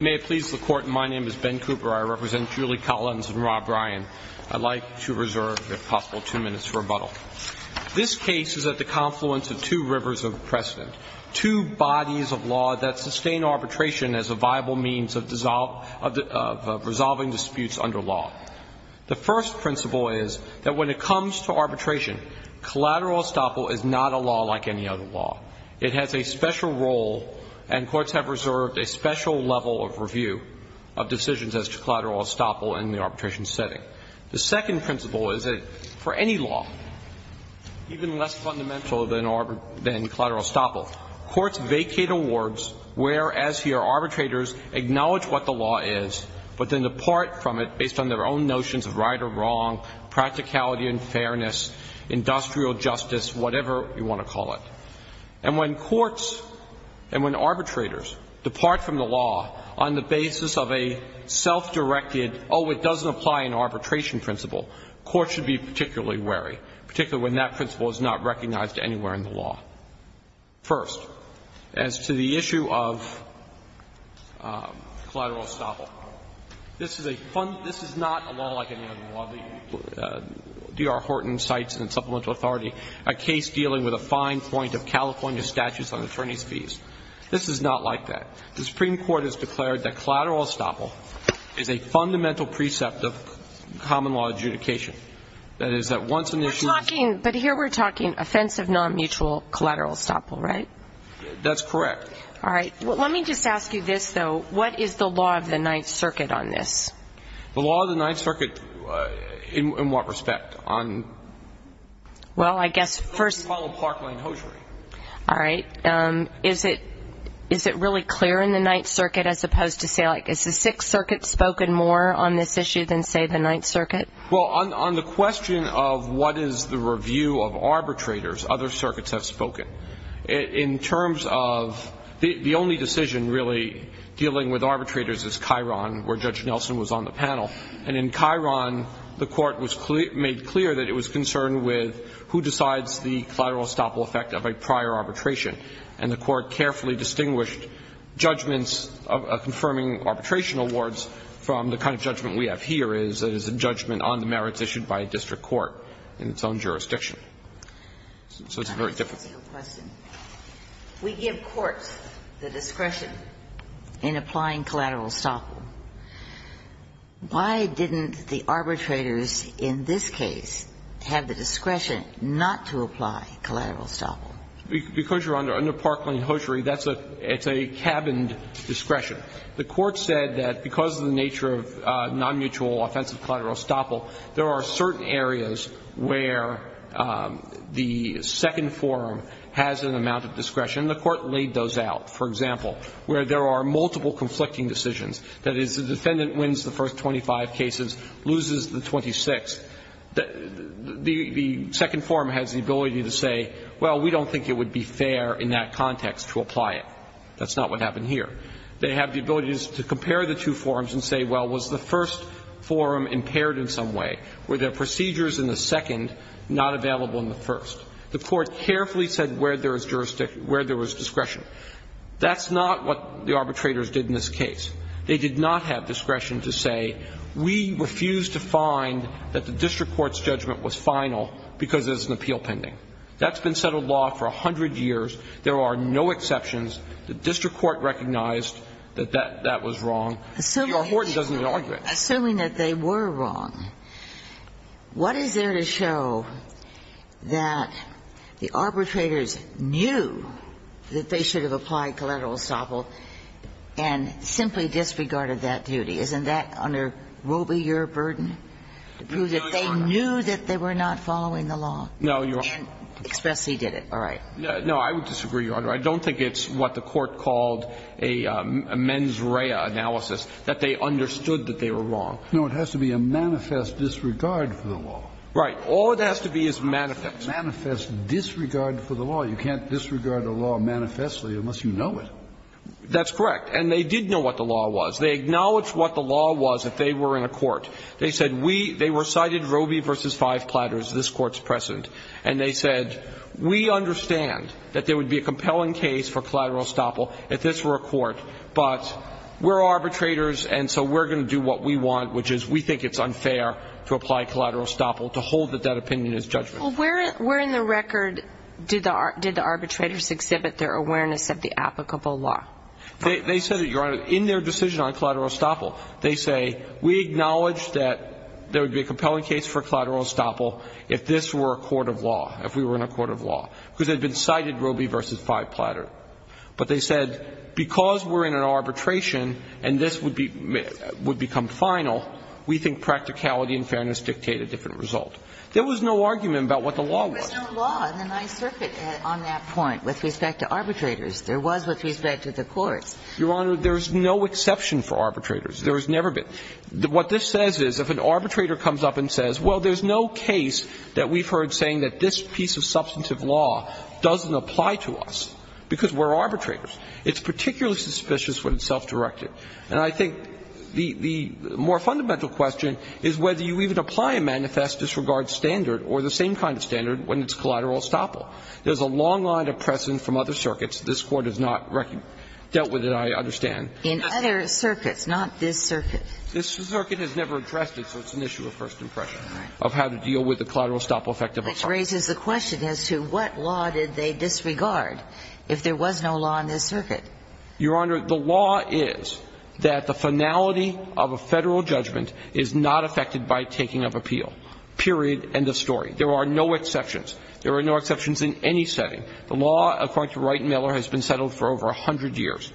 May it please the Court, my name is Ben Cooper, I represent Julie Collins and Rob Ryan. I'd like to reserve, if possible, two minutes for rebuttal. This case is at the confluence of two rivers of precedent, two bodies of law that sustain arbitration as a viable means of resolving disputes under law. The first principle is that when it comes to arbitration, collateral estoppel is not a law like any other law. It has a special role, and courts have reserved a special level of review of decisions as to collateral estoppel in the arbitration setting. The second principle is that for any law, even less fundamental than collateral estoppel, courts vacate awards where, as here, arbitrators acknowledge what the law is, but then depart from it based on their own notions of right or wrong, practicality and fairness, industrial justice, whatever you want to call it. And when courts and when arbitrators depart from the law on the basis of a self-directed, oh, it doesn't apply in arbitration principle, courts should be particularly wary, particularly when that principle is not recognized anywhere in the law. First, as to the issue of collateral estoppel, this is a fund ‑‑ this is not a law like any other law. D.R. Horton cites in Supplemental Authority a case dealing with a fine point of California statutes on attorney's fees. This is not like that. The Supreme Court has declared that collateral estoppel is a fundamental precept of common law adjudication. But here we're talking offensive nonmutual collateral estoppel, right? That's correct. All right. Let me just ask you this, though. What is the law of the Ninth Circuit on this? The law of the Ninth Circuit in what respect? Well, I guess first ‑‑ It's called a Parkland hosiery. All right. Is it really clear in the Ninth Circuit as opposed to say, like, is the Sixth Circuit spoken more on this issue than, say, the Ninth Circuit? Well, on the question of what is the review of arbitrators, other circuits have spoken. In terms of ‑‑ the only decision really dealing with arbitrators is Chiron, where Judge Nelson was on the panel. And in Chiron, the Court made clear that it was concerned with who decides the collateral estoppel effect of a prior arbitration. And the Court carefully distinguished judgments confirming arbitration awards from the kind of judgment we have here, where there is a judgment on the merits issued by a district court in its own jurisdiction. So it's very difficult. Let me ask you a question. We give courts the discretion in applying collateral estoppel. Why didn't the arbitrators in this case have the discretion not to apply collateral estoppel? Because you're under Parkland hosiery, that's a ‑‑ it's a cabined discretion. The Court said that because of the nature of nonmutual offensive collateral estoppel, there are certain areas where the second forum has an amount of discretion. The Court laid those out. For example, where there are multiple conflicting decisions, that is, the defendant wins the first 25 cases, loses the 26th, the second forum has the ability to say, well, we don't think it would be fair in that context to apply it. That's not what happened here. They have the ability to compare the two forums and say, well, was the first forum impaired in some way? Were there procedures in the second not available in the first? The Court carefully said where there was jurisdiction, where there was discretion. That's not what the arbitrators did in this case. They did not have discretion to say, we refuse to find that the district court's judgment was final because there's an appeal pending. That's been settled law for 100 years. There are no exceptions. The district court recognized that that was wrong. Your Horton doesn't need an argument. Kagan. Assuming that they were wrong, what is there to show that the arbitrators knew that they should have applied collateral estoppel and simply disregarded that duty? Isn't that under robier burden, to prove that they knew that they were not following the law? No, Your Honor. And expressly did it. All right. No, I would disagree, Your Honor. I don't think it's what the Court called a mens rea analysis, that they understood that they were wrong. No, it has to be a manifest disregard for the law. Right. All it has to be is manifest. Manifest disregard for the law. You can't disregard a law manifestly unless you know it. That's correct. And they did know what the law was. They acknowledged what the law was if they were in a court. They said we they recited Robie v. Five Platters, this Court's precedent. And they said we understand that there would be a compelling case for collateral estoppel if this were a court, but we're arbitrators and so we're going to do what we want, which is we think it's unfair to apply collateral estoppel to hold that opinion as judgment. Well, where in the record did the arbitrators exhibit their awareness of the applicable law? They said it, Your Honor, in their decision on collateral estoppel. They say we acknowledge that there would be a compelling case for collateral estoppel if this were a court of law, if we were in a court of law. Because it had been cited, Robie v. Five Platters. But they said because we're in an arbitration and this would become final, we think practicality and fairness dictate a different result. There was no argument about what the law was. There was no law in the Ninth Circuit on that point with respect to arbitrators. There was with respect to the courts. Your Honor, there is no exception for arbitrators. There has never been. What this says is if an arbitrator comes up and says, well, there's no case that we've heard saying that this piece of substantive law doesn't apply to us because we're arbitrators, it's particularly suspicious when it's self-directed. And I think the more fundamental question is whether you even apply a manifest disregard standard or the same kind of standard when it's collateral estoppel. There's a long line of precedent from other circuits. This Court has not dealt with it, I understand. In other circuits, not this circuit. This circuit has never addressed it, so it's an issue of first impression of how to deal with the collateral estoppel effect of a charge. Which raises the question as to what law did they disregard if there was no law in this circuit? Your Honor, the law is that the finality of a Federal judgment is not affected by taking of appeal, period, end of story. There are no exceptions. There are no exceptions in any setting. The law, according to Wright and Miller, has been settled for over 100 years.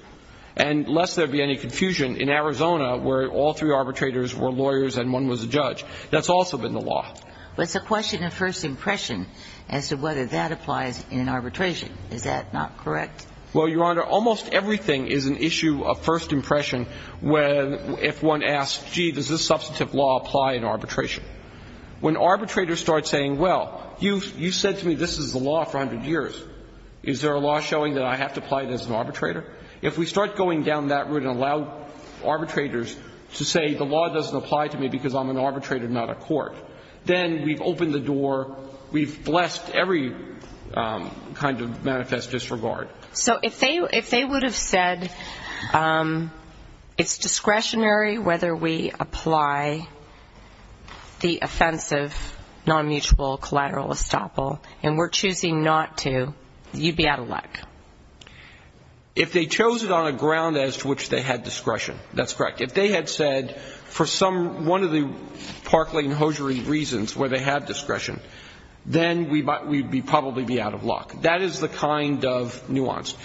And lest there be any confusion, in Arizona, where all three arbitrators were lawyers and one was a judge, that's also been the law. But it's a question of first impression as to whether that applies in arbitration. Is that not correct? Well, Your Honor, almost everything is an issue of first impression when one asks, gee, does this substantive law apply in arbitration? When arbitrators start saying, well, you said to me this is the law for 100 years. Is there a law showing that I have to apply it as an arbitrator? If we start going down that route and allow arbitrators to say the law doesn't apply to me because I'm an arbitrator, not a court, then we've opened the door, we've blessed every kind of manifest disregard. So if they would have said it's discretionary whether we apply the offensive non-mutual collateral estoppel and we're choosing not to, you'd be out of luck? If they chose it on a ground as to which they had discretion, that's correct. If they had said for some one of the Parkland and Hosiery reasons where they had discretion, then we'd probably be out of luck. That is the kind of nuance.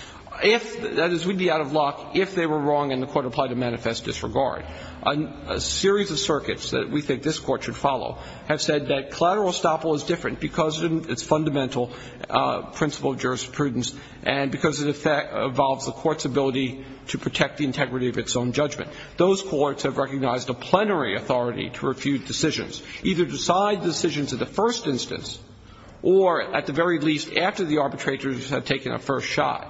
If, that is, we'd be out of luck if they were wrong and the Court applied a manifest disregard. A series of circuits that we think this Court should follow have said that collateral estoppel is different because of its fundamental principle of jurisprudence and because it involves the Court's ability to protect the integrity of its own judgment. Those courts have recognized a plenary authority to refute decisions, either decide the decisions of the first instance or, at the very least, after the arbitrators have taken a first shot,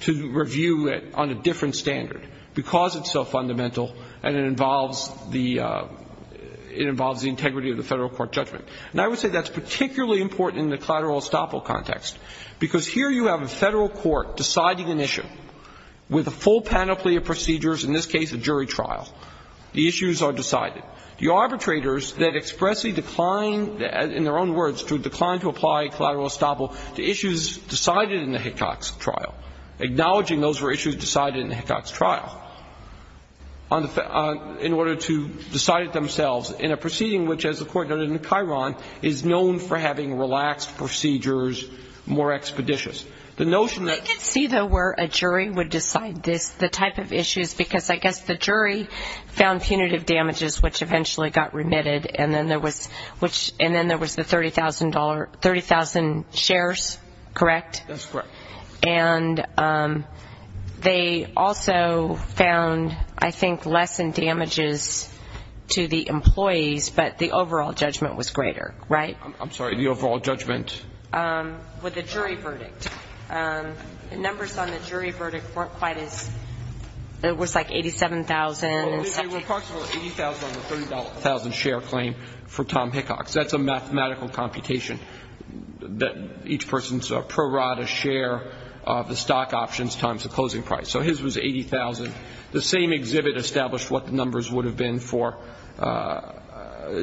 to review it on a different standard because it's so fundamental and it involves the integrity of the federal court judgment. And I would say that's particularly important in the collateral estoppel context because here you have a federal court deciding an issue with a full panoply of procedures, in this case a jury trial. The issues are decided. The arbitrators that expressly decline, in their own words, to decline to apply collateral estoppel to issues decided in the Hickox trial, acknowledging those were issues decided in the Hickox trial, in order to decide it themselves in a proceeding which, as the Court noted in the Chiron, is known for having relaxed procedures, more expeditious. The notion that ---- I can see, though, where a jury would decide the type of issues because I guess the jury found punitive damages, which eventually got remitted, and then there was the $30,000, 30,000 shares, correct? That's correct. And they also found, I think, less in damages to the employees, but the overall judgment was greater, right? I'm sorry, the overall judgment? With the jury verdict. The numbers on the jury verdict weren't quite as ---- It was like 87,000. It was approximately 80,000 on the $30,000 share claim for Tom Hickox. That's a mathematical computation, that each person's prorata share of the stock options times the closing price. So his was 80,000. The same exhibit established what the numbers would have been for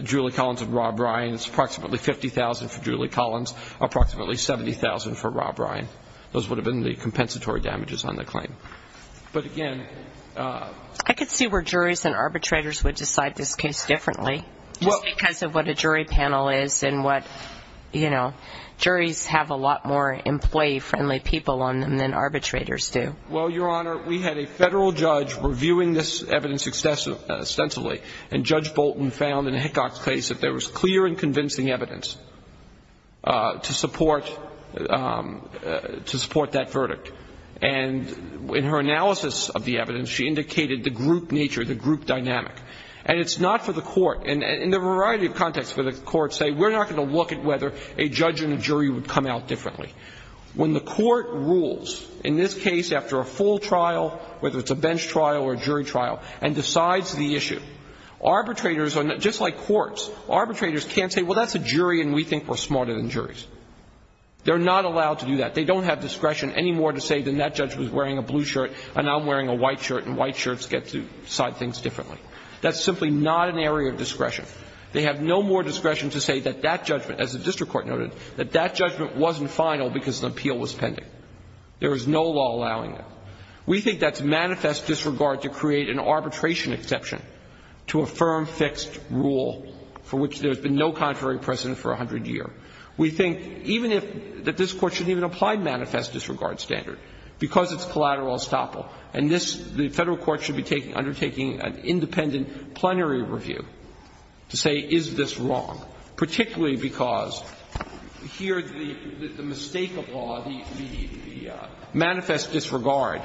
Julie Collins and Rob Ryan. It's approximately 50,000 for Julie Collins, approximately 70,000 for Rob Ryan. Those would have been the compensatory damages on the claim. But again ---- I can see where juries and arbitrators would decide this case differently, just because of what a jury panel is and what, you know, juries have a lot more employee-friendly people on them than arbitrators do. Well, Your Honor, we had a federal judge reviewing this evidence extensively, and Judge Bolton found in Hickox's case that there was clear and convincing evidence to support that verdict. And in her analysis of the evidence, she indicated the group nature, the group dynamic. And it's not for the court. And in a variety of contexts for the court to say, we're not going to look at whether a judge and a jury would come out differently. When the court rules, in this case after a full trial, whether it's a bench trial or a jury trial, and decides the issue, arbitrators are not ---- just like courts, arbitrators can't say, well, that's a jury and we think we're smarter than juries. They're not allowed to do that. They don't have discretion anymore to say that that judge was wearing a blue shirt and I'm wearing a white shirt, and white shirts get to decide things differently. That's simply not an area of discretion. They have no more discretion to say that that judgment, as the district court noted, that that judgment wasn't final because the appeal was pending. There is no law allowing it. We think that's manifest disregard to create an arbitration exception to a firm, fixed rule for which there has been no contrary precedent for a hundred years. We think even if ---- that this Court shouldn't even apply manifest disregard standard because it's collateral estoppel. And this, the Federal court should be undertaking an independent plenary review to say is this wrong, particularly because here the mistake of law, the manifest disregard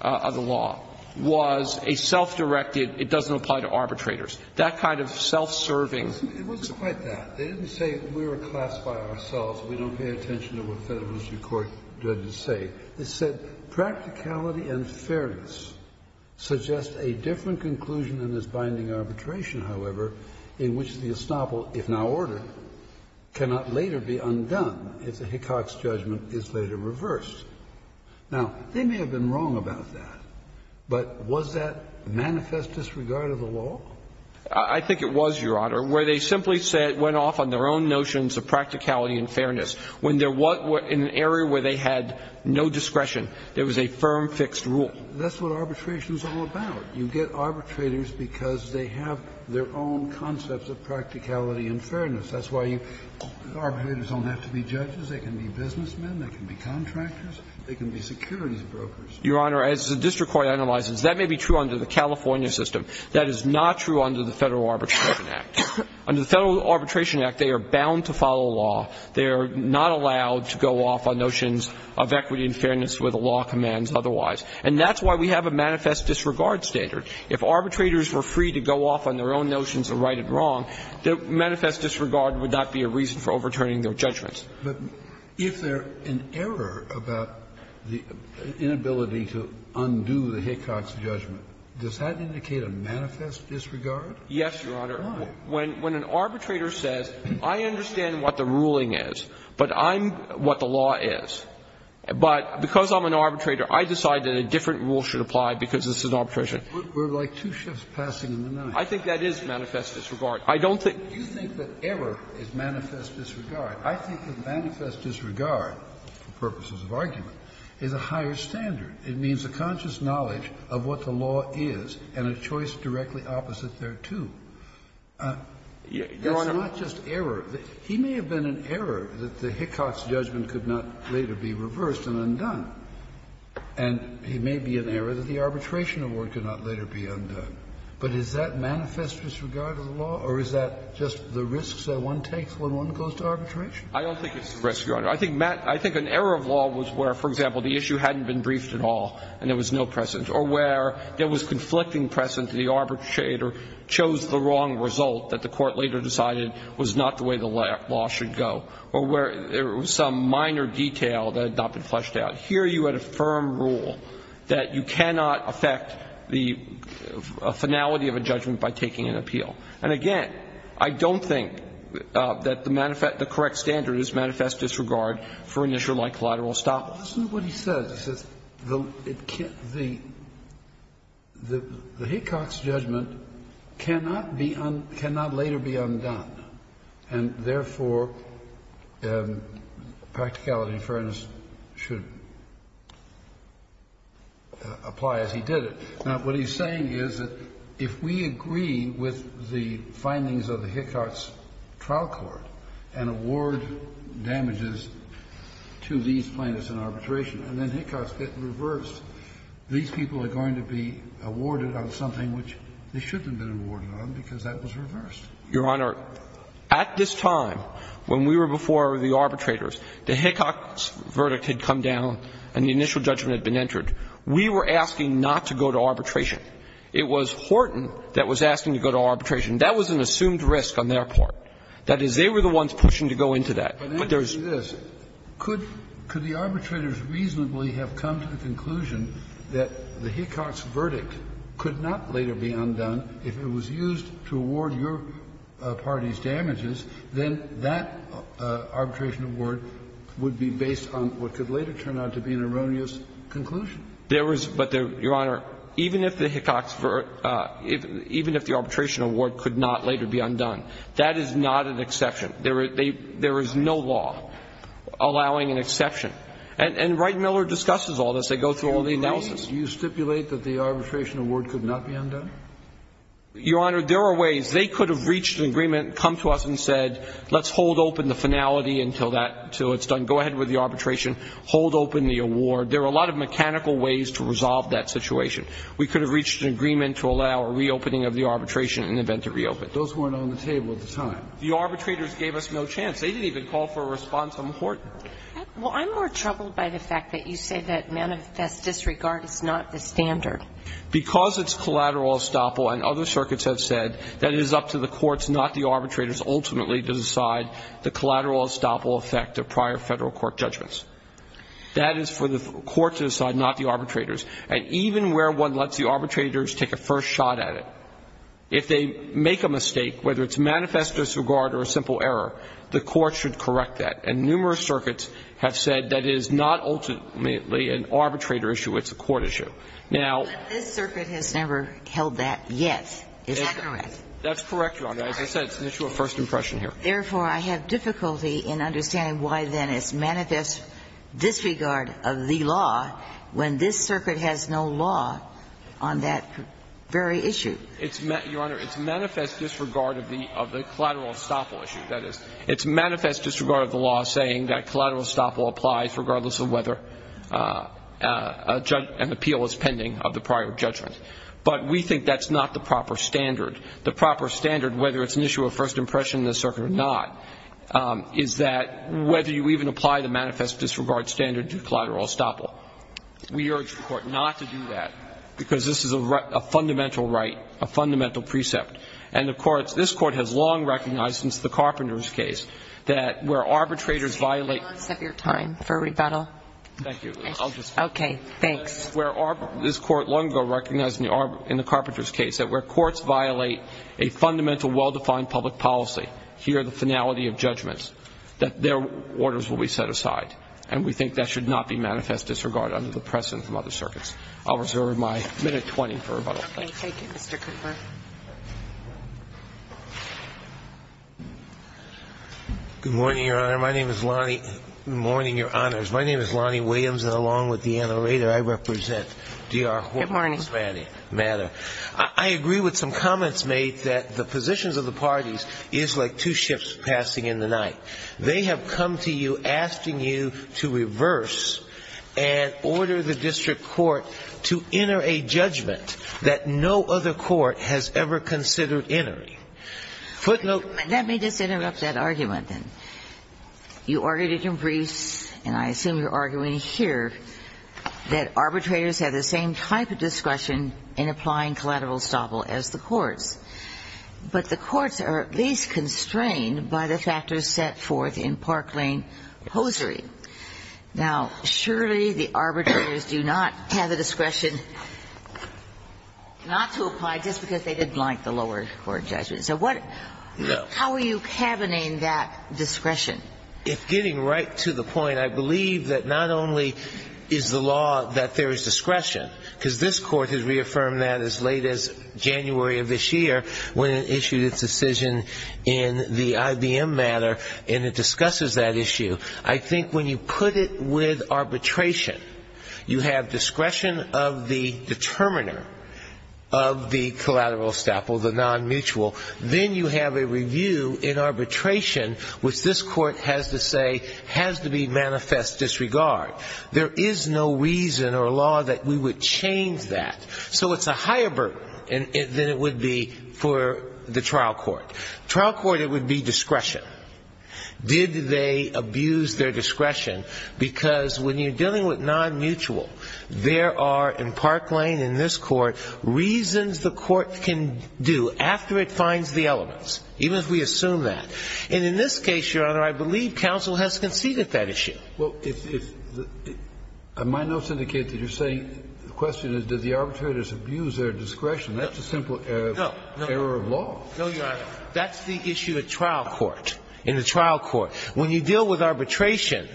of the law, was a self-directed, it doesn't apply to arbitrators, that kind of self-serving. It wasn't quite that. They didn't say we were classed by ourselves, we don't pay attention to what Federal And so I would argue, Justice Scalia, that the question of practicality and fairness suggests a different conclusion in this binding arbitration, however, in which the estoppel, if now ordered, cannot later be undone if the Hickox judgment is later reversed. Now, they may have been wrong about that. But was that manifest disregard of the law? I think it was, Your Honor, where they simply went off on their own notions of practicality and fairness. When they're in an area where they had no discretion, it was a firm, fixed rule. That's what arbitration is all about. You get arbitrators because they have their own concepts of practicality and fairness. That's why you arbitrators don't have to be judges. They can be businessmen. They can be contractors. They can be securities brokers. Your Honor, as the district court analyzes, that may be true under the California system. That is not true under the Federal Arbitration Act. Under the Federal Arbitration Act, they are bound to follow law. They are not allowed to go off on notions of equity and fairness where the law commands otherwise. And that's why we have a manifest disregard standard. If arbitrators were free to go off on their own notions of right and wrong, the manifest disregard would not be a reason for overturning their judgments. Kennedy. But if there is an error about the inability to undo the Hickox judgment, does that indicate a manifest disregard? Yes, Your Honor. Why? When an arbitrator says, I understand what the ruling is, but I'm what the law is. But because I'm an arbitrator, I decide that a different rule should apply because this is arbitration. We're like two shifts passing in the night. I think that is manifest disregard. I don't think you think that error is manifest disregard. I think that manifest disregard, for purposes of argument, is a higher standard. It means a conscious knowledge of what the law is and a choice directly opposite thereto. That's not just error. He may have been an error that the Hickox judgment could not later be reversed and undone. And he may be an error that the arbitration award could not later be undone. But is that manifest disregard of the law, or is that just the risks that one takes when one goes to arbitration? I don't think it's a risk, Your Honor. I think an error of law was where, for example, the issue hadn't been briefed at all and there was no precedent, or where there was conflicting precedent and the arbitrator chose the wrong result that the court later decided was not the way the law should go, or where there was some minor detail that had not been fleshed out. Here you had a firm rule that you cannot affect the finality of a judgment by taking an appeal. And again, I don't think that the correct standard is manifest disregard for an issue like collateral estoppel. Kennedy. Listen to what he says. He says the Hickox judgment cannot later be undone, and therefore, practicality and fairness should apply as he did it. Now, what he's saying is that if we agree with the findings of the Hickox trial court and award damages to these plaintiffs in arbitration, and then Hickox gets reversed, these people are going to be awarded on something which they shouldn't have been awarded on because that was reversed. Your Honor, at this time, when we were before the arbitrators, the Hickox verdict had come down and the initial judgment had been entered. We were asking not to go to arbitration. It was Horton that was asking to go to arbitration. That was an assumed risk on their part. That is, they were the ones pushing to go into that. But there's there's. Kennedy. Could the arbitrators reasonably have come to the conclusion that the Hickox verdict could not later be undone if it was used to award your party's damages, then that arbitration award would be based on what could later turn out to be an erroneous conclusion? There was, but, Your Honor, even if the Hickox, even if the arbitration award could not later be undone, that is not an exception. There is no law allowing an exception. And Wright and Miller discusses all this. They go through all the analysis. Do you stipulate that the arbitration award could not be undone? Your Honor, there are ways. They could have reached an agreement, come to us and said, let's hold open the finality Go ahead with the arbitration. Hold open the award. There are a lot of mechanical ways to resolve that situation. We could have reached an agreement to allow a reopening of the arbitration in the event it reopened. Those weren't on the table at the time. The arbitrators gave us no chance. They didn't even call for a response on the court. Well, I'm more troubled by the fact that you say that manifest disregard is not the standard. Because it's collateral estoppel and other circuits have said that it is up to the courts, not the arbitrators, ultimately to decide the collateral estoppel effect of prior Federal court judgments. That is for the court to decide, not the arbitrators. And even where one lets the arbitrators take a first shot at it, if they make a mistake, whether it's manifest disregard or a simple error, the court should correct that. And numerous circuits have said that it is not ultimately an arbitrator issue, it's a court issue. Now ---- But this circuit has never held that yet. Is that correct? That's correct, Your Honor. As I said, it's an issue of first impression here. Therefore, I have difficulty in understanding why, then, it's manifest disregard of the law when this circuit has no law on that very issue. Your Honor, it's manifest disregard of the collateral estoppel issue. That is, it's manifest disregard of the law saying that collateral estoppel applies regardless of whether an appeal is pending of the prior judgment. But we think that's not the proper standard. The proper standard, whether it's an issue of first impression in this circuit or not, is that whether you even apply the manifest disregard standard to collateral estoppel. We urge the Court not to do that because this is a fundamental right, a fundamental precept. And the courts ---- this Court has long recognized since the Carpenter's case that where arbitrators violate ---- Can you give us a bit of time for rebuttal? Thank you. I'll just ---- Okay. Thanks. This Court long ago recognized in the Carpenter's case that where courts violate a fundamental, well-defined public policy, here the finality of judgments, that their orders will be set aside. And we think that should not be manifest disregard under the precedent from other circuits. I'll reserve my minute 20 for rebuttal. Thank you. Okay. Thank you, Mr. Cooper. Good morning, Your Honor. My name is Lonnie ---- morning, Your Honors. My name is Lonnie Williams. And along with Deanna Rader, I represent D.R. Horne's matter. Good morning. I agree with some comments made that the positions of the parties is like two ships passing in the night. They have come to you asking you to reverse and order the district court to enter a judgment that no other court has ever considered entering. Footnote ---- Let me just interrupt that argument. You argued in your briefs, and I assume you're arguing here, that arbitrators have the same type of discretion in applying collateral estoppel as the courts. But the courts are at least constrained by the factors set forth in Parklane posery. Now, surely the arbitrators do not have the discretion not to apply just because they didn't like the lower court judgment. So what ---- How are you cabining that discretion? If getting right to the point, I believe that not only is the law that there is discretion, because this court has reaffirmed that as late as January of this year when it issued its decision in the IBM matter, and it discusses that issue. I think when you put it with arbitration, you have discretion of the determiner of the collateral estoppel, the non-mutual. Then you have a review in arbitration, which this court has to say has to be manifest disregard. There is no reason or law that we would change that. So it's a higher burden than it would be for the trial court. Trial court, it would be discretion. Did they abuse their discretion? I think the question is, does the arbitrator abuse their discretion? Because when you're dealing with non-mutual, there are in Parklane and this court reasons the court can do after it finds the elements, even if we assume that. And in this case, Your Honor, I believe counsel has conceded that issue. Well, if the ---- my notes indicate that you're saying the question is, does the arbitrator abuse their discretion? That's a simple error of law. No, Your Honor. That's the issue at trial court, in the trial court. When you deal with arbitration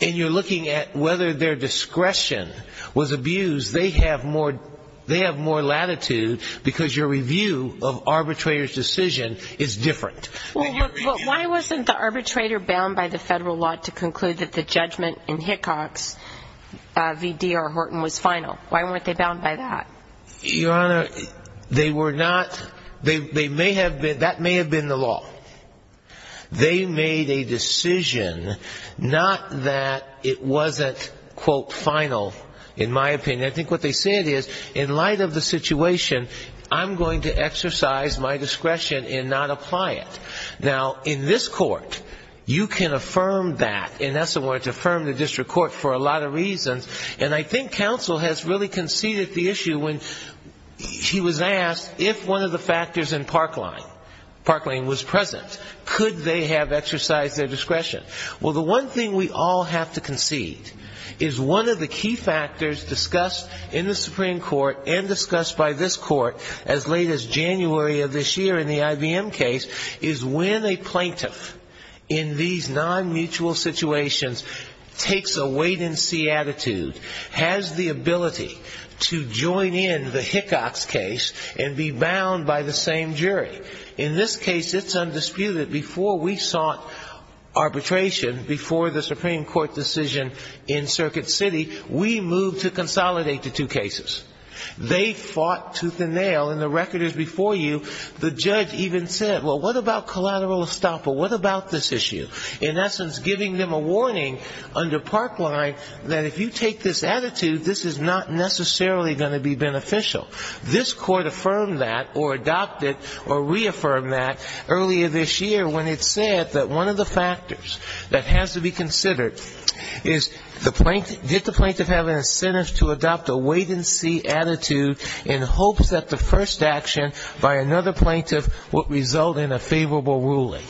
and you're looking at whether their discretion was abused, they have more latitude because your review of arbitrator's decision is different. Well, why wasn't the arbitrator bound by the federal law to conclude that the judgment in Hickox v. D.R. Horton was final? Why weren't they bound by that? Your Honor, they were not. They may have been. That may have been the law. They made a decision, not that it wasn't, quote, final, in my opinion. I think what they said is, in light of the situation, I'm going to exercise my discretion and not apply it. Now, in this court, you can affirm that. And that's the way to affirm the district court for a lot of reasons. And I think counsel has really conceded the issue when he was asked if one of the factors in Parkland was present. Could they have exercised their discretion? Well, the one thing we all have to concede is one of the key factors discussed in the Supreme Court and discussed by this court as late as January of this year in the IBM case is when a plaintiff in these non-mutual situations takes a wait-and-see attitude, has the ability to join in the Hickox case and be bound by the same jury. In this case, it's undisputed. Before we sought arbitration, before the Supreme Court decision in Circuit City, we moved to consolidate the two cases. They fought tooth and nail, and the record is before you. The judge even said, well, what about collateral estoppel? What about this issue? In essence, giving them a warning under Parkland that if you take this attitude, this is not necessarily going to be beneficial. This court affirmed that or adopted or reaffirmed that earlier this year when it said that one of the factors that has to be considered is did the plaintiff have an incentive to adopt a wait-and-see attitude in hopes that the first action by another plaintiff would result in a favorable ruling.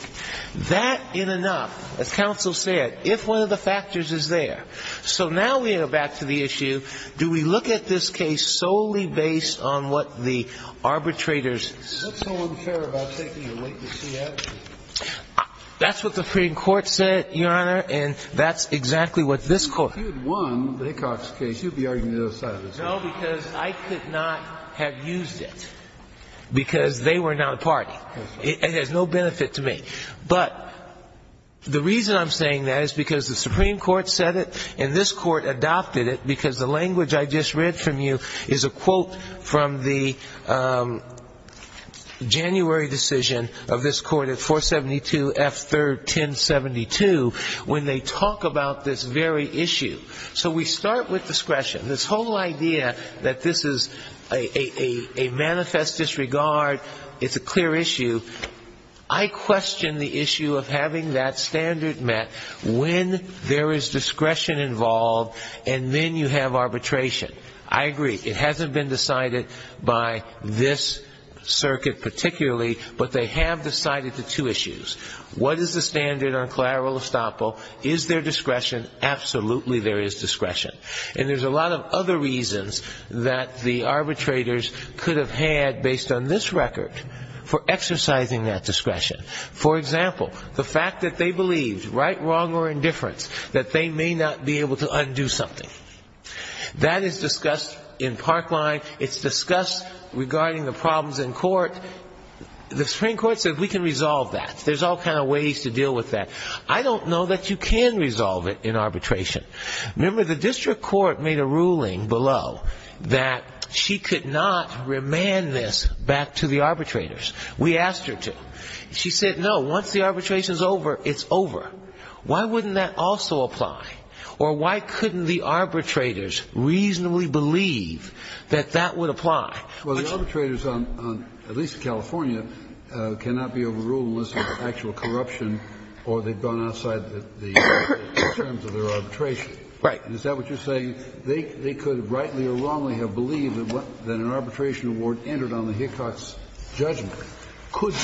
That, in and of, as counsel said, if one of the factors is there. So now we go back to the issue, do we look at this case solely based on what the arbitrator's ---- That's so unfair about taking a wait-and-see attitude. That's what the Supreme Court said, Your Honor, and that's exactly what this Court ---- If you had won the Hickox case, you would be arguing the other side of the table. No, because I could not have used it because they were not a party. It has no benefit to me. But the reason I'm saying that is because the Supreme Court said it and this Court adopted it because the language I just read from you is a quote from the January decision of this Court at 472 F. 3rd, 1072, when they talk about this very issue. So we start with discretion. This whole idea that this is a manifest disregard, it's a clear issue, I question the issue of having that standard met when there is discretion involved and then you have arbitration. I agree. It hasn't been decided by this circuit particularly, but they have decided the two issues. What is the standard on collateral estoppel? Is there discretion? Absolutely there is discretion. And there's a lot of other reasons that the arbitrators could have had based on this record for exercising that discretion. For example, the fact that they believed, right, wrong, or indifference, that they may not be able to undo something. That is discussed in Parkland. It's discussed regarding the problems in court. The Supreme Court said we can resolve that. There's all kinds of ways to deal with that. I don't know that you can resolve it in arbitration. Remember, the district court made a ruling below that she could not remand this back to the arbitrators. We asked her to. She said, no, once the arbitration is over, it's over. Why wouldn't that also apply? Or why couldn't the arbitrators reasonably believe that that would apply? Well, the arbitrators, at least in California, cannot be overruled unless there's actual corruption or they've gone outside the terms of their arbitration. Right. Is that what you're saying? They could rightly or wrongly have believed that an arbitration award entered on the Hickox judgment could in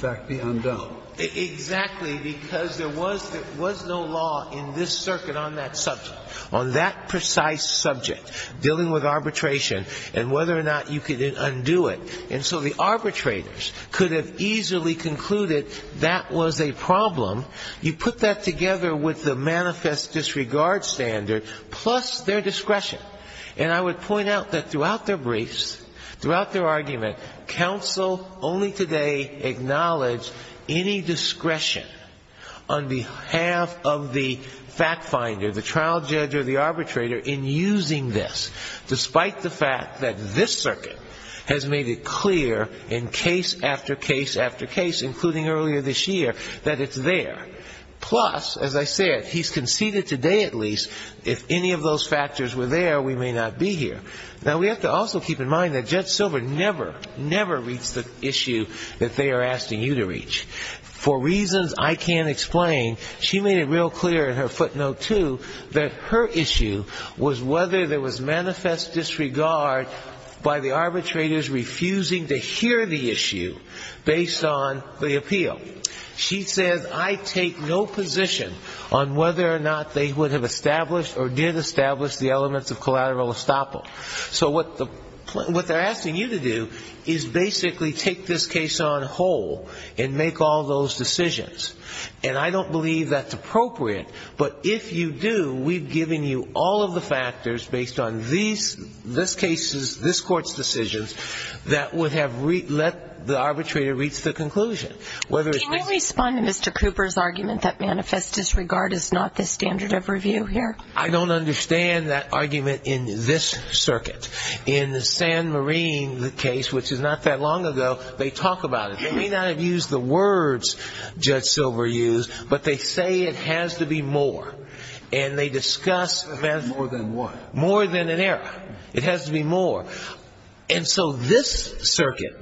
fact be undone. Exactly, because there was no law in this circuit on that subject, on that precise subject, dealing with arbitration and whether or not you could undo it. And so the arbitrators could have easily concluded that was a problem. You put that together with the manifest disregard standard plus their discretion. And I would point out that throughout their briefs, throughout their argument, counsel only today acknowledged any discretion on behalf of the fact finder, the trial judge or the arbitrator, in using this, despite the fact that this circuit has made it clear in case after case after case, including earlier this year, that it's there. Plus, as I said, he's conceded today at least if any of those factors were there, we may not be here. Now, we have to also keep in mind that Judge Silver never, never reached the issue that they are asking you to reach. For reasons I can't explain, she made it real clear in her footnote, too, that her issue was whether there was manifest disregard by the arbitrators refusing to hear the issue based on the appeal. She says, I take no position on whether or not they would have established or did establish the elements of collateral estoppel. So what the, what they're asking you to do is basically take this case on whole and make all those decisions. And I don't believe that's appropriate. But if you do, we've given you all of the factors based on these, this case's, this court's decisions that would have let the arbitrator reach the conclusion, whether it's. Can you respond to Mr. Cooper's argument that manifest disregard is not the standard of review here? I don't understand that argument in this circuit. In the Sand Marine case, which is not that long ago, they talk about it. They may not have used the words Judge Silver used, but they say it has to be more. And they discuss. More than what? More than an error. It has to be more. And so this circuit,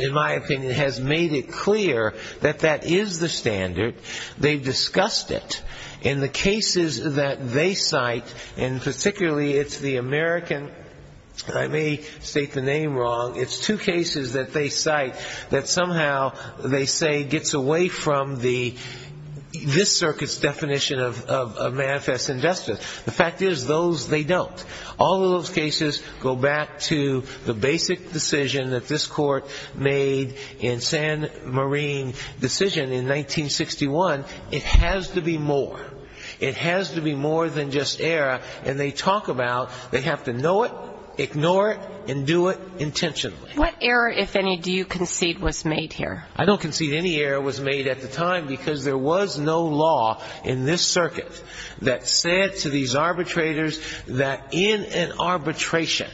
in my opinion, has made it clear that that is the standard. They've discussed it. In the cases that they cite, and particularly it's the American, I may state the name wrong, it's two cases that they cite that somehow they say gets away from the, this circuit's definition of manifest injustice. The fact is, those they don't. All of those cases go back to the basic decision that this court made in Sand Marine decision in 1961. It has to be more. It has to be more than just error. And they talk about they have to know it, ignore it, and do it intentionally. What error, if any, do you concede was made here? I don't concede any error was made at the time because there was no law in this in an arbitration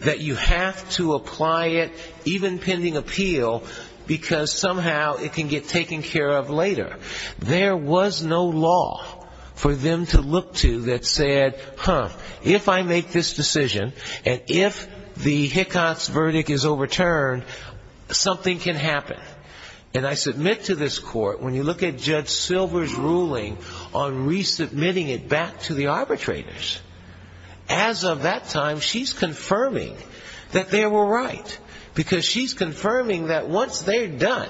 that you have to apply it, even pending appeal, because somehow it can get taken care of later. There was no law for them to look to that said, huh, if I make this decision and if the Hickox verdict is overturned, something can happen. And I submit to this court, when you look at Judge Silver's ruling on resubmitting it back to the arbitrators, as of that time she's confirming that they were right because she's confirming that once they're done,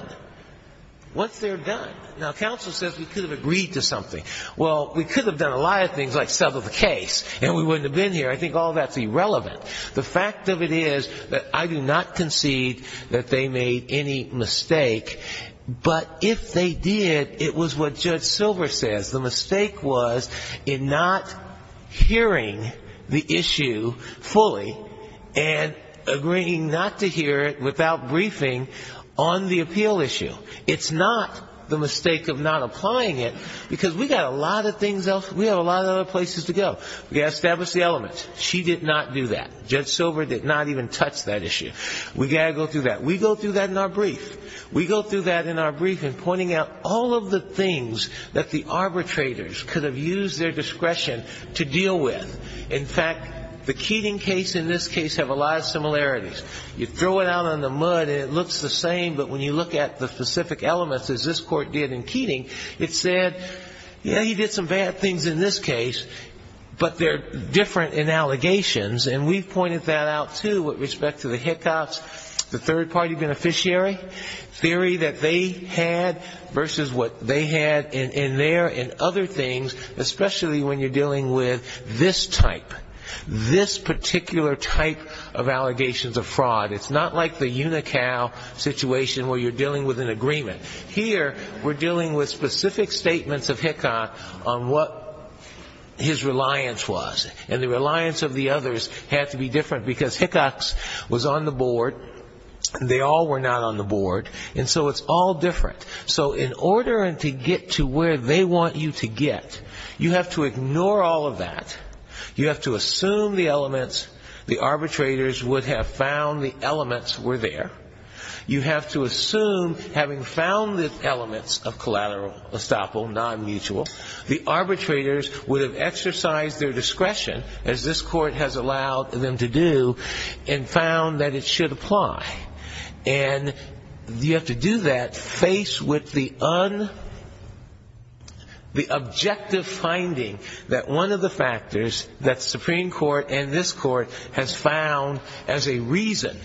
once they're done. Now, counsel says we could have agreed to something. Well, we could have done a lot of things like settle the case and we wouldn't have been here. I think all that's irrelevant. The fact of it is that I do not concede that they made any mistake, but if they did, it was what Judge Silver says. The mistake was in not hearing the issue fully and agreeing not to hear it without briefing on the appeal issue. It's not the mistake of not applying it, because we have a lot of other places to go. We've got to establish the elements. She did not do that. Judge Silver did not even touch that issue. We've got to go through that. We go through that in our brief. We go through that in our brief in pointing out all of the things that the arbitrators could have used their discretion to deal with. In fact, the Keating case and this case have a lot of similarities. You throw it out in the mud and it looks the same, but when you look at the specific elements, as this court did in Keating, it said, yeah, he did some bad things in this case, but they're different in allegations, and we've pointed that out, too, with respect to the Hickox, the third-party beneficiary theory that they had versus what they had in there and other things, especially when you're dealing with this type, this particular type of allegations of fraud. It's not like the UNICAO situation where you're dealing with an agreement. Here we're dealing with specific statements of Hickox on what his reliance was, and the reliance of the others had to be different, because Hickox was on the board, they all were not on the board, and so it's all different. So in order to get to where they want you to get, you have to ignore all of that. You have to assume the elements, the arbitrators would have found the elements were there. You have to assume, having found the elements of collateral estoppel, non-mutual, the arbitrators would have exercised their discretion, as this court has allowed them to do, and found that it should apply. And you have to do that faced with the objective finding that one of the factors that the Supreme Court and this court has found as a reason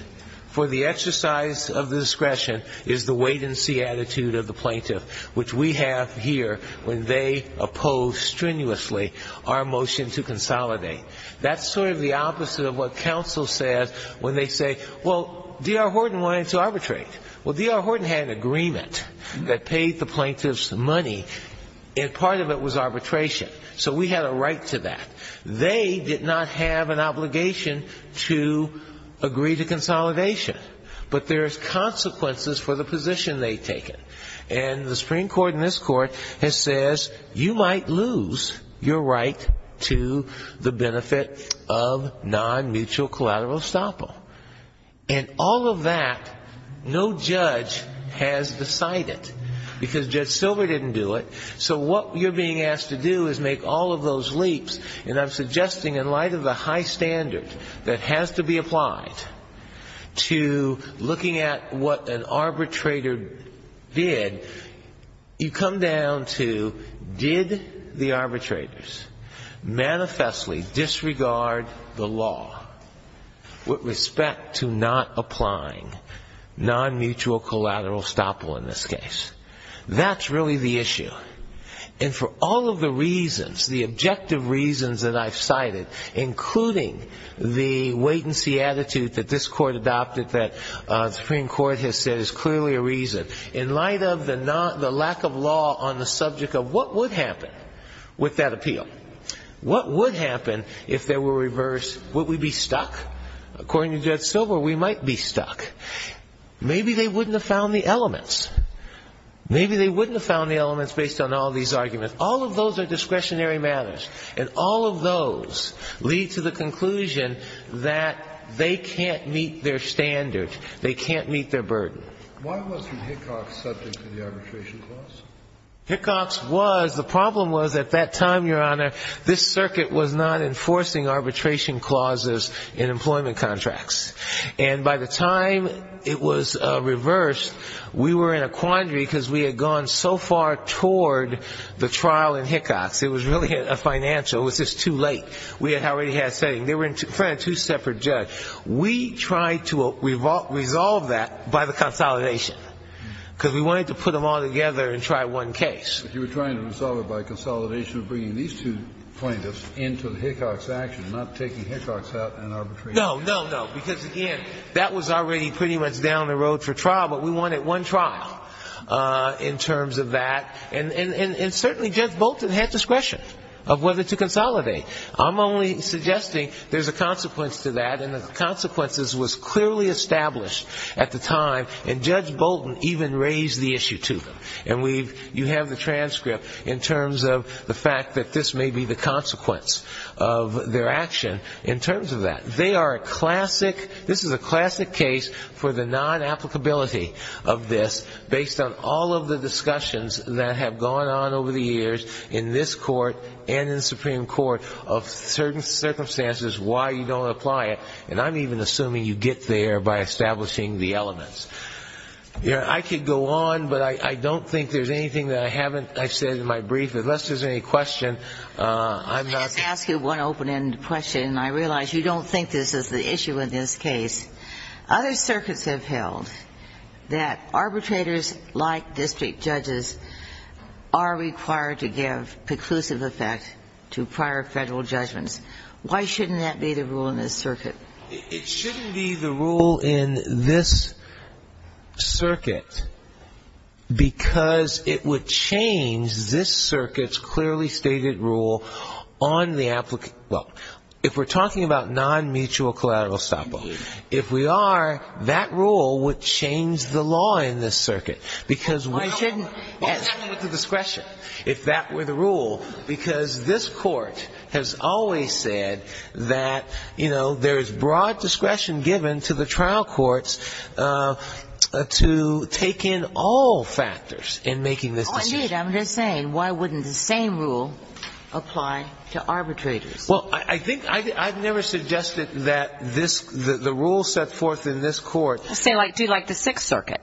for the exercise of the discretion is the wait-and-see attitude of the plaintiff, which we have here when they oppose strenuously our motion to consolidate. That's sort of the opposite of what counsel says when they say, well, D.R. Horton wanted to arbitrate. Well, D.R. Horton had an agreement that paid the plaintiff's money, and part of it was arbitration. So we had a right to that. They did not have an obligation to agree to consolidation, but there's consequences for the position they've taken. And the Supreme Court and this court has said, you might lose your right to the benefit of non-mutual collateral estoppel. And all of that no judge has decided, because Judge Silver didn't do it. So what you're being asked to do is make all of those leaps, and I'm suggesting in light of the high standard that has to be applied to looking at what an arbitrator did, you come down to did the arbitrators manifestly disregard the law with respect to not applying non-mutual collateral estoppel in this case. That's really the issue. And for all of the reasons, the objective reasons that I've cited, including the wait-and-see attitude that this court adopted, that the Supreme Court has said is clearly a reason, in light of the lack of law on the subject of what would happen with that appeal. What would happen if there were a reverse? Would we be stuck? According to Judge Silver, we might be stuck. Maybe they wouldn't have found the elements. Maybe they wouldn't have found the elements based on all these arguments. All of those are discretionary matters, and all of those lead to the conclusion that they can't meet their standard. They can't meet their burden. Why wasn't Hickox subject to the arbitration clause? Hickox was. The problem was at that time, Your Honor, this circuit was not enforcing arbitration clauses in employment contracts. And by the time it was reversed, we were in a quandary because we had gone so far toward the trial in Hickox. It was really a financial. It was just too late. We already had setting. They were in front of two separate judges. We tried to resolve that by the consolidation because we wanted to put them all together and try one case. But you were trying to resolve it by consolidation of bringing these two plaintiffs into the Hickox action, not taking Hickox out and arbitrating. No, no, no, because, again, that was already pretty much down the road for trial, but we wanted one trial in terms of that. And certainly Judge Bolton had discretion of whether to consolidate. I'm only suggesting there's a consequence to that, and the consequences was clearly established at the time, and Judge Bolton even raised the issue to them. And you have the transcript in terms of the fact that this may be the consequence of their action in terms of that. They are a classic, this is a classic case for the non-applicability of this based on all of the discussions that have gone on over the years in this court and in the Supreme Court of certain circumstances why you don't apply it. And I'm even assuming you get there by establishing the elements. I could go on, but I don't think there's anything that I haven't said in my brief. Unless there's any question, I'm not going to. Let me ask you one open-ended question, and I realize you don't think this is the issue in this case. Other circuits have held that arbitrators like district judges are required to give preclusive effect to prior Federal judgments. Why shouldn't that be the rule in this circuit? It shouldn't be the rule in this circuit because it would change this circuit's clearly stated rule on the applicant. Well, if we're talking about non-mutual collateral stop-loss, if we are, that rule would change the law in this circuit. Why shouldn't it be the discretion if that were the rule? Because this Court has always said that, you know, there is broad discretion given to the trial courts to take in all factors in making this decision. Indeed, I'm just saying, why wouldn't the same rule apply to arbitrators? Well, I think I've never suggested that the rule set forth in this Court. Say, like, do you like the Sixth Circuit?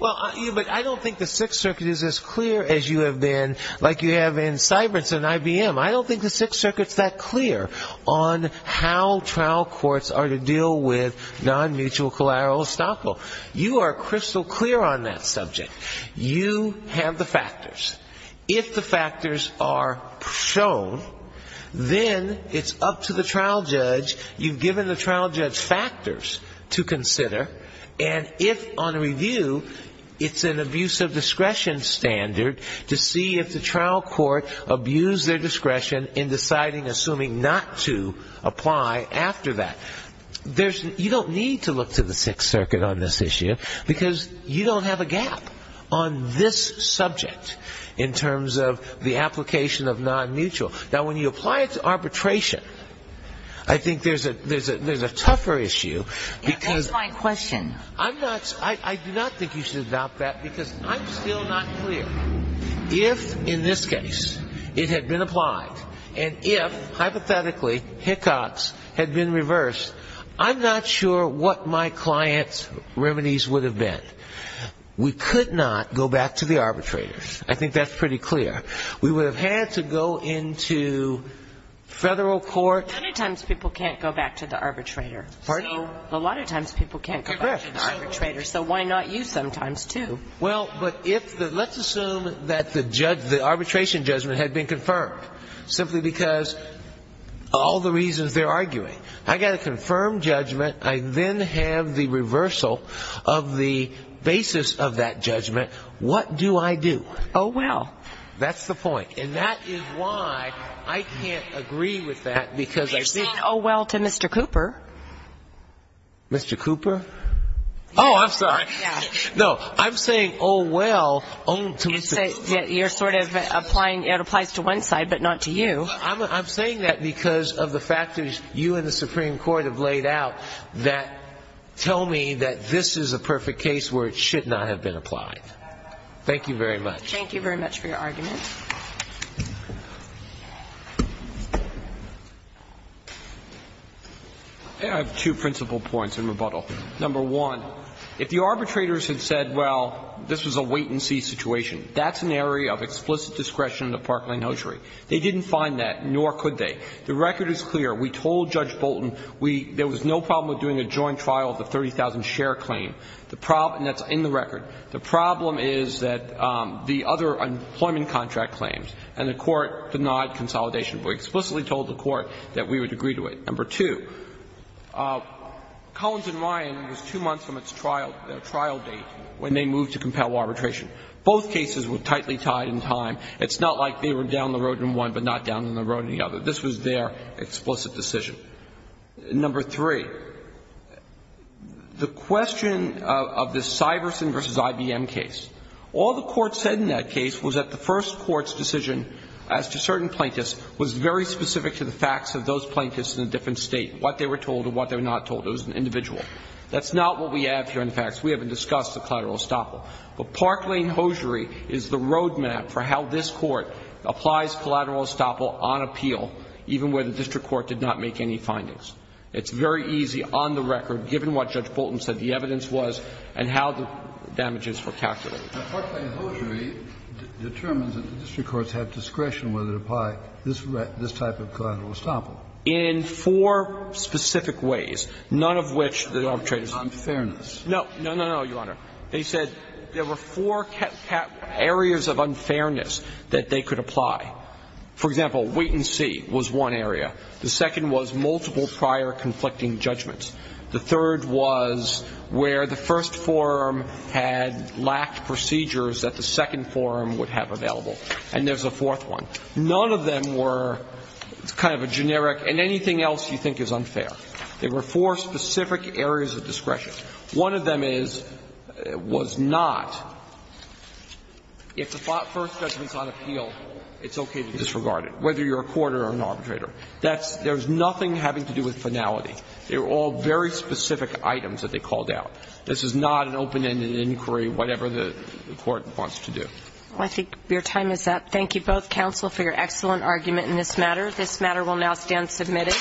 Well, but I don't think the Sixth Circuit is as clear as you have been, like you have in Cyprus and IBM. I don't think the Sixth Circuit's that clear on how trial courts are to deal with non-mutual collateral estoppel. You are crystal clear on that subject. You have the factors. If the factors are shown, then it's up to the trial judge. You've given the trial judge factors to consider. And if, on review, it's an abuse of discretion standard to see if the trial court abused their discretion in deciding, assuming not to apply after that. You don't need to look to the Sixth Circuit on this issue because you don't have a gap on this subject in terms of the application of non-mutual. Now, when you apply it to arbitration, I think there's a tougher issue. That's my question. I do not think you should adopt that because I'm still not clear. If, in this case, it had been applied, and if, hypothetically, Hickox had been reversed, I'm not sure what my client's remedies would have been. We could not go back to the arbitrators. I think that's pretty clear. We would have had to go into Federal court. A lot of times people can't go back to the arbitrator. Pardon? A lot of times people can't go back to the arbitrator. So why not you sometimes, too? Well, but if the ‑‑ let's assume that the arbitration judgment had been confirmed simply because of all the reasons they're arguing. I've got a confirmed judgment. I then have the reversal of the basis of that judgment. What do I do? Oh well. That's the point. And that is why I can't agree with that because I think ‑‑ You're saying oh well to Mr. Cooper. Mr. Cooper? Oh, I'm sorry. No, I'm saying oh well to Mr. Cooper. You're sort of applying ‑‑ it applies to one side but not to you. No, I'm saying that because of the factors you and the Supreme Court have laid out that tell me that this is a perfect case where it should not have been applied. Thank you very much. Thank you very much for your argument. I have two principal points in rebuttal. Number one, if the arbitrators had said well, this was a wait and see situation, that's an area of explicit discretion of Parkland Notary. They didn't find that, nor could they. The record is clear. We told Judge Bolton there was no problem with doing a joint trial of the 30,000 share claim. That's in the record. The problem is that the other employment contract claims and the court denied consolidation but explicitly told the court that we would agree to it. Number two, Collins and Ryan was two months from its trial date when they moved to compel arbitration. Both cases were tightly tied in time. It's not like they were down the road in one but not down the road in the other. This was their explicit decision. Number three, the question of the Syverson v. IBM case, all the court said in that case was that the first court's decision as to certain plaintiffs was very specific to the facts of those plaintiffs in a different state, what they were told and what they were not told. It was an individual. That's not what we have here in the facts. We haven't discussed the collateral estoppel. But Parkland-Hosiery is the roadmap for how this Court applies collateral estoppel on appeal, even where the district court did not make any findings. It's very easy on the record, given what Judge Bolton said the evidence was, and how the damages were calculated. Kennedy. Now, Parkland-Hosiery determines that the district courts have discretion whether to apply this type of collateral estoppel. In four specific ways, none of which the arbitrators agreed to. On fairness. No, no, no, Your Honor. They said there were four areas of unfairness that they could apply. For example, wait and see was one area. The second was multiple prior conflicting judgments. The third was where the first forum had lacked procedures that the second forum would have available. And there's a fourth one. None of them were kind of a generic, and anything else you think is unfair. There were four specific areas of discretion. One of them is, was not, if the first judgment is on appeal, it's okay to disregard it, whether you're a court or an arbitrator. That's – there's nothing having to do with finality. They were all very specific items that they called out. This is not an open-ended inquiry, whatever the court wants to do. Well, I think your time is up. Thank you both, counsel, for your excellent argument in this matter. This matter will now stand submitted.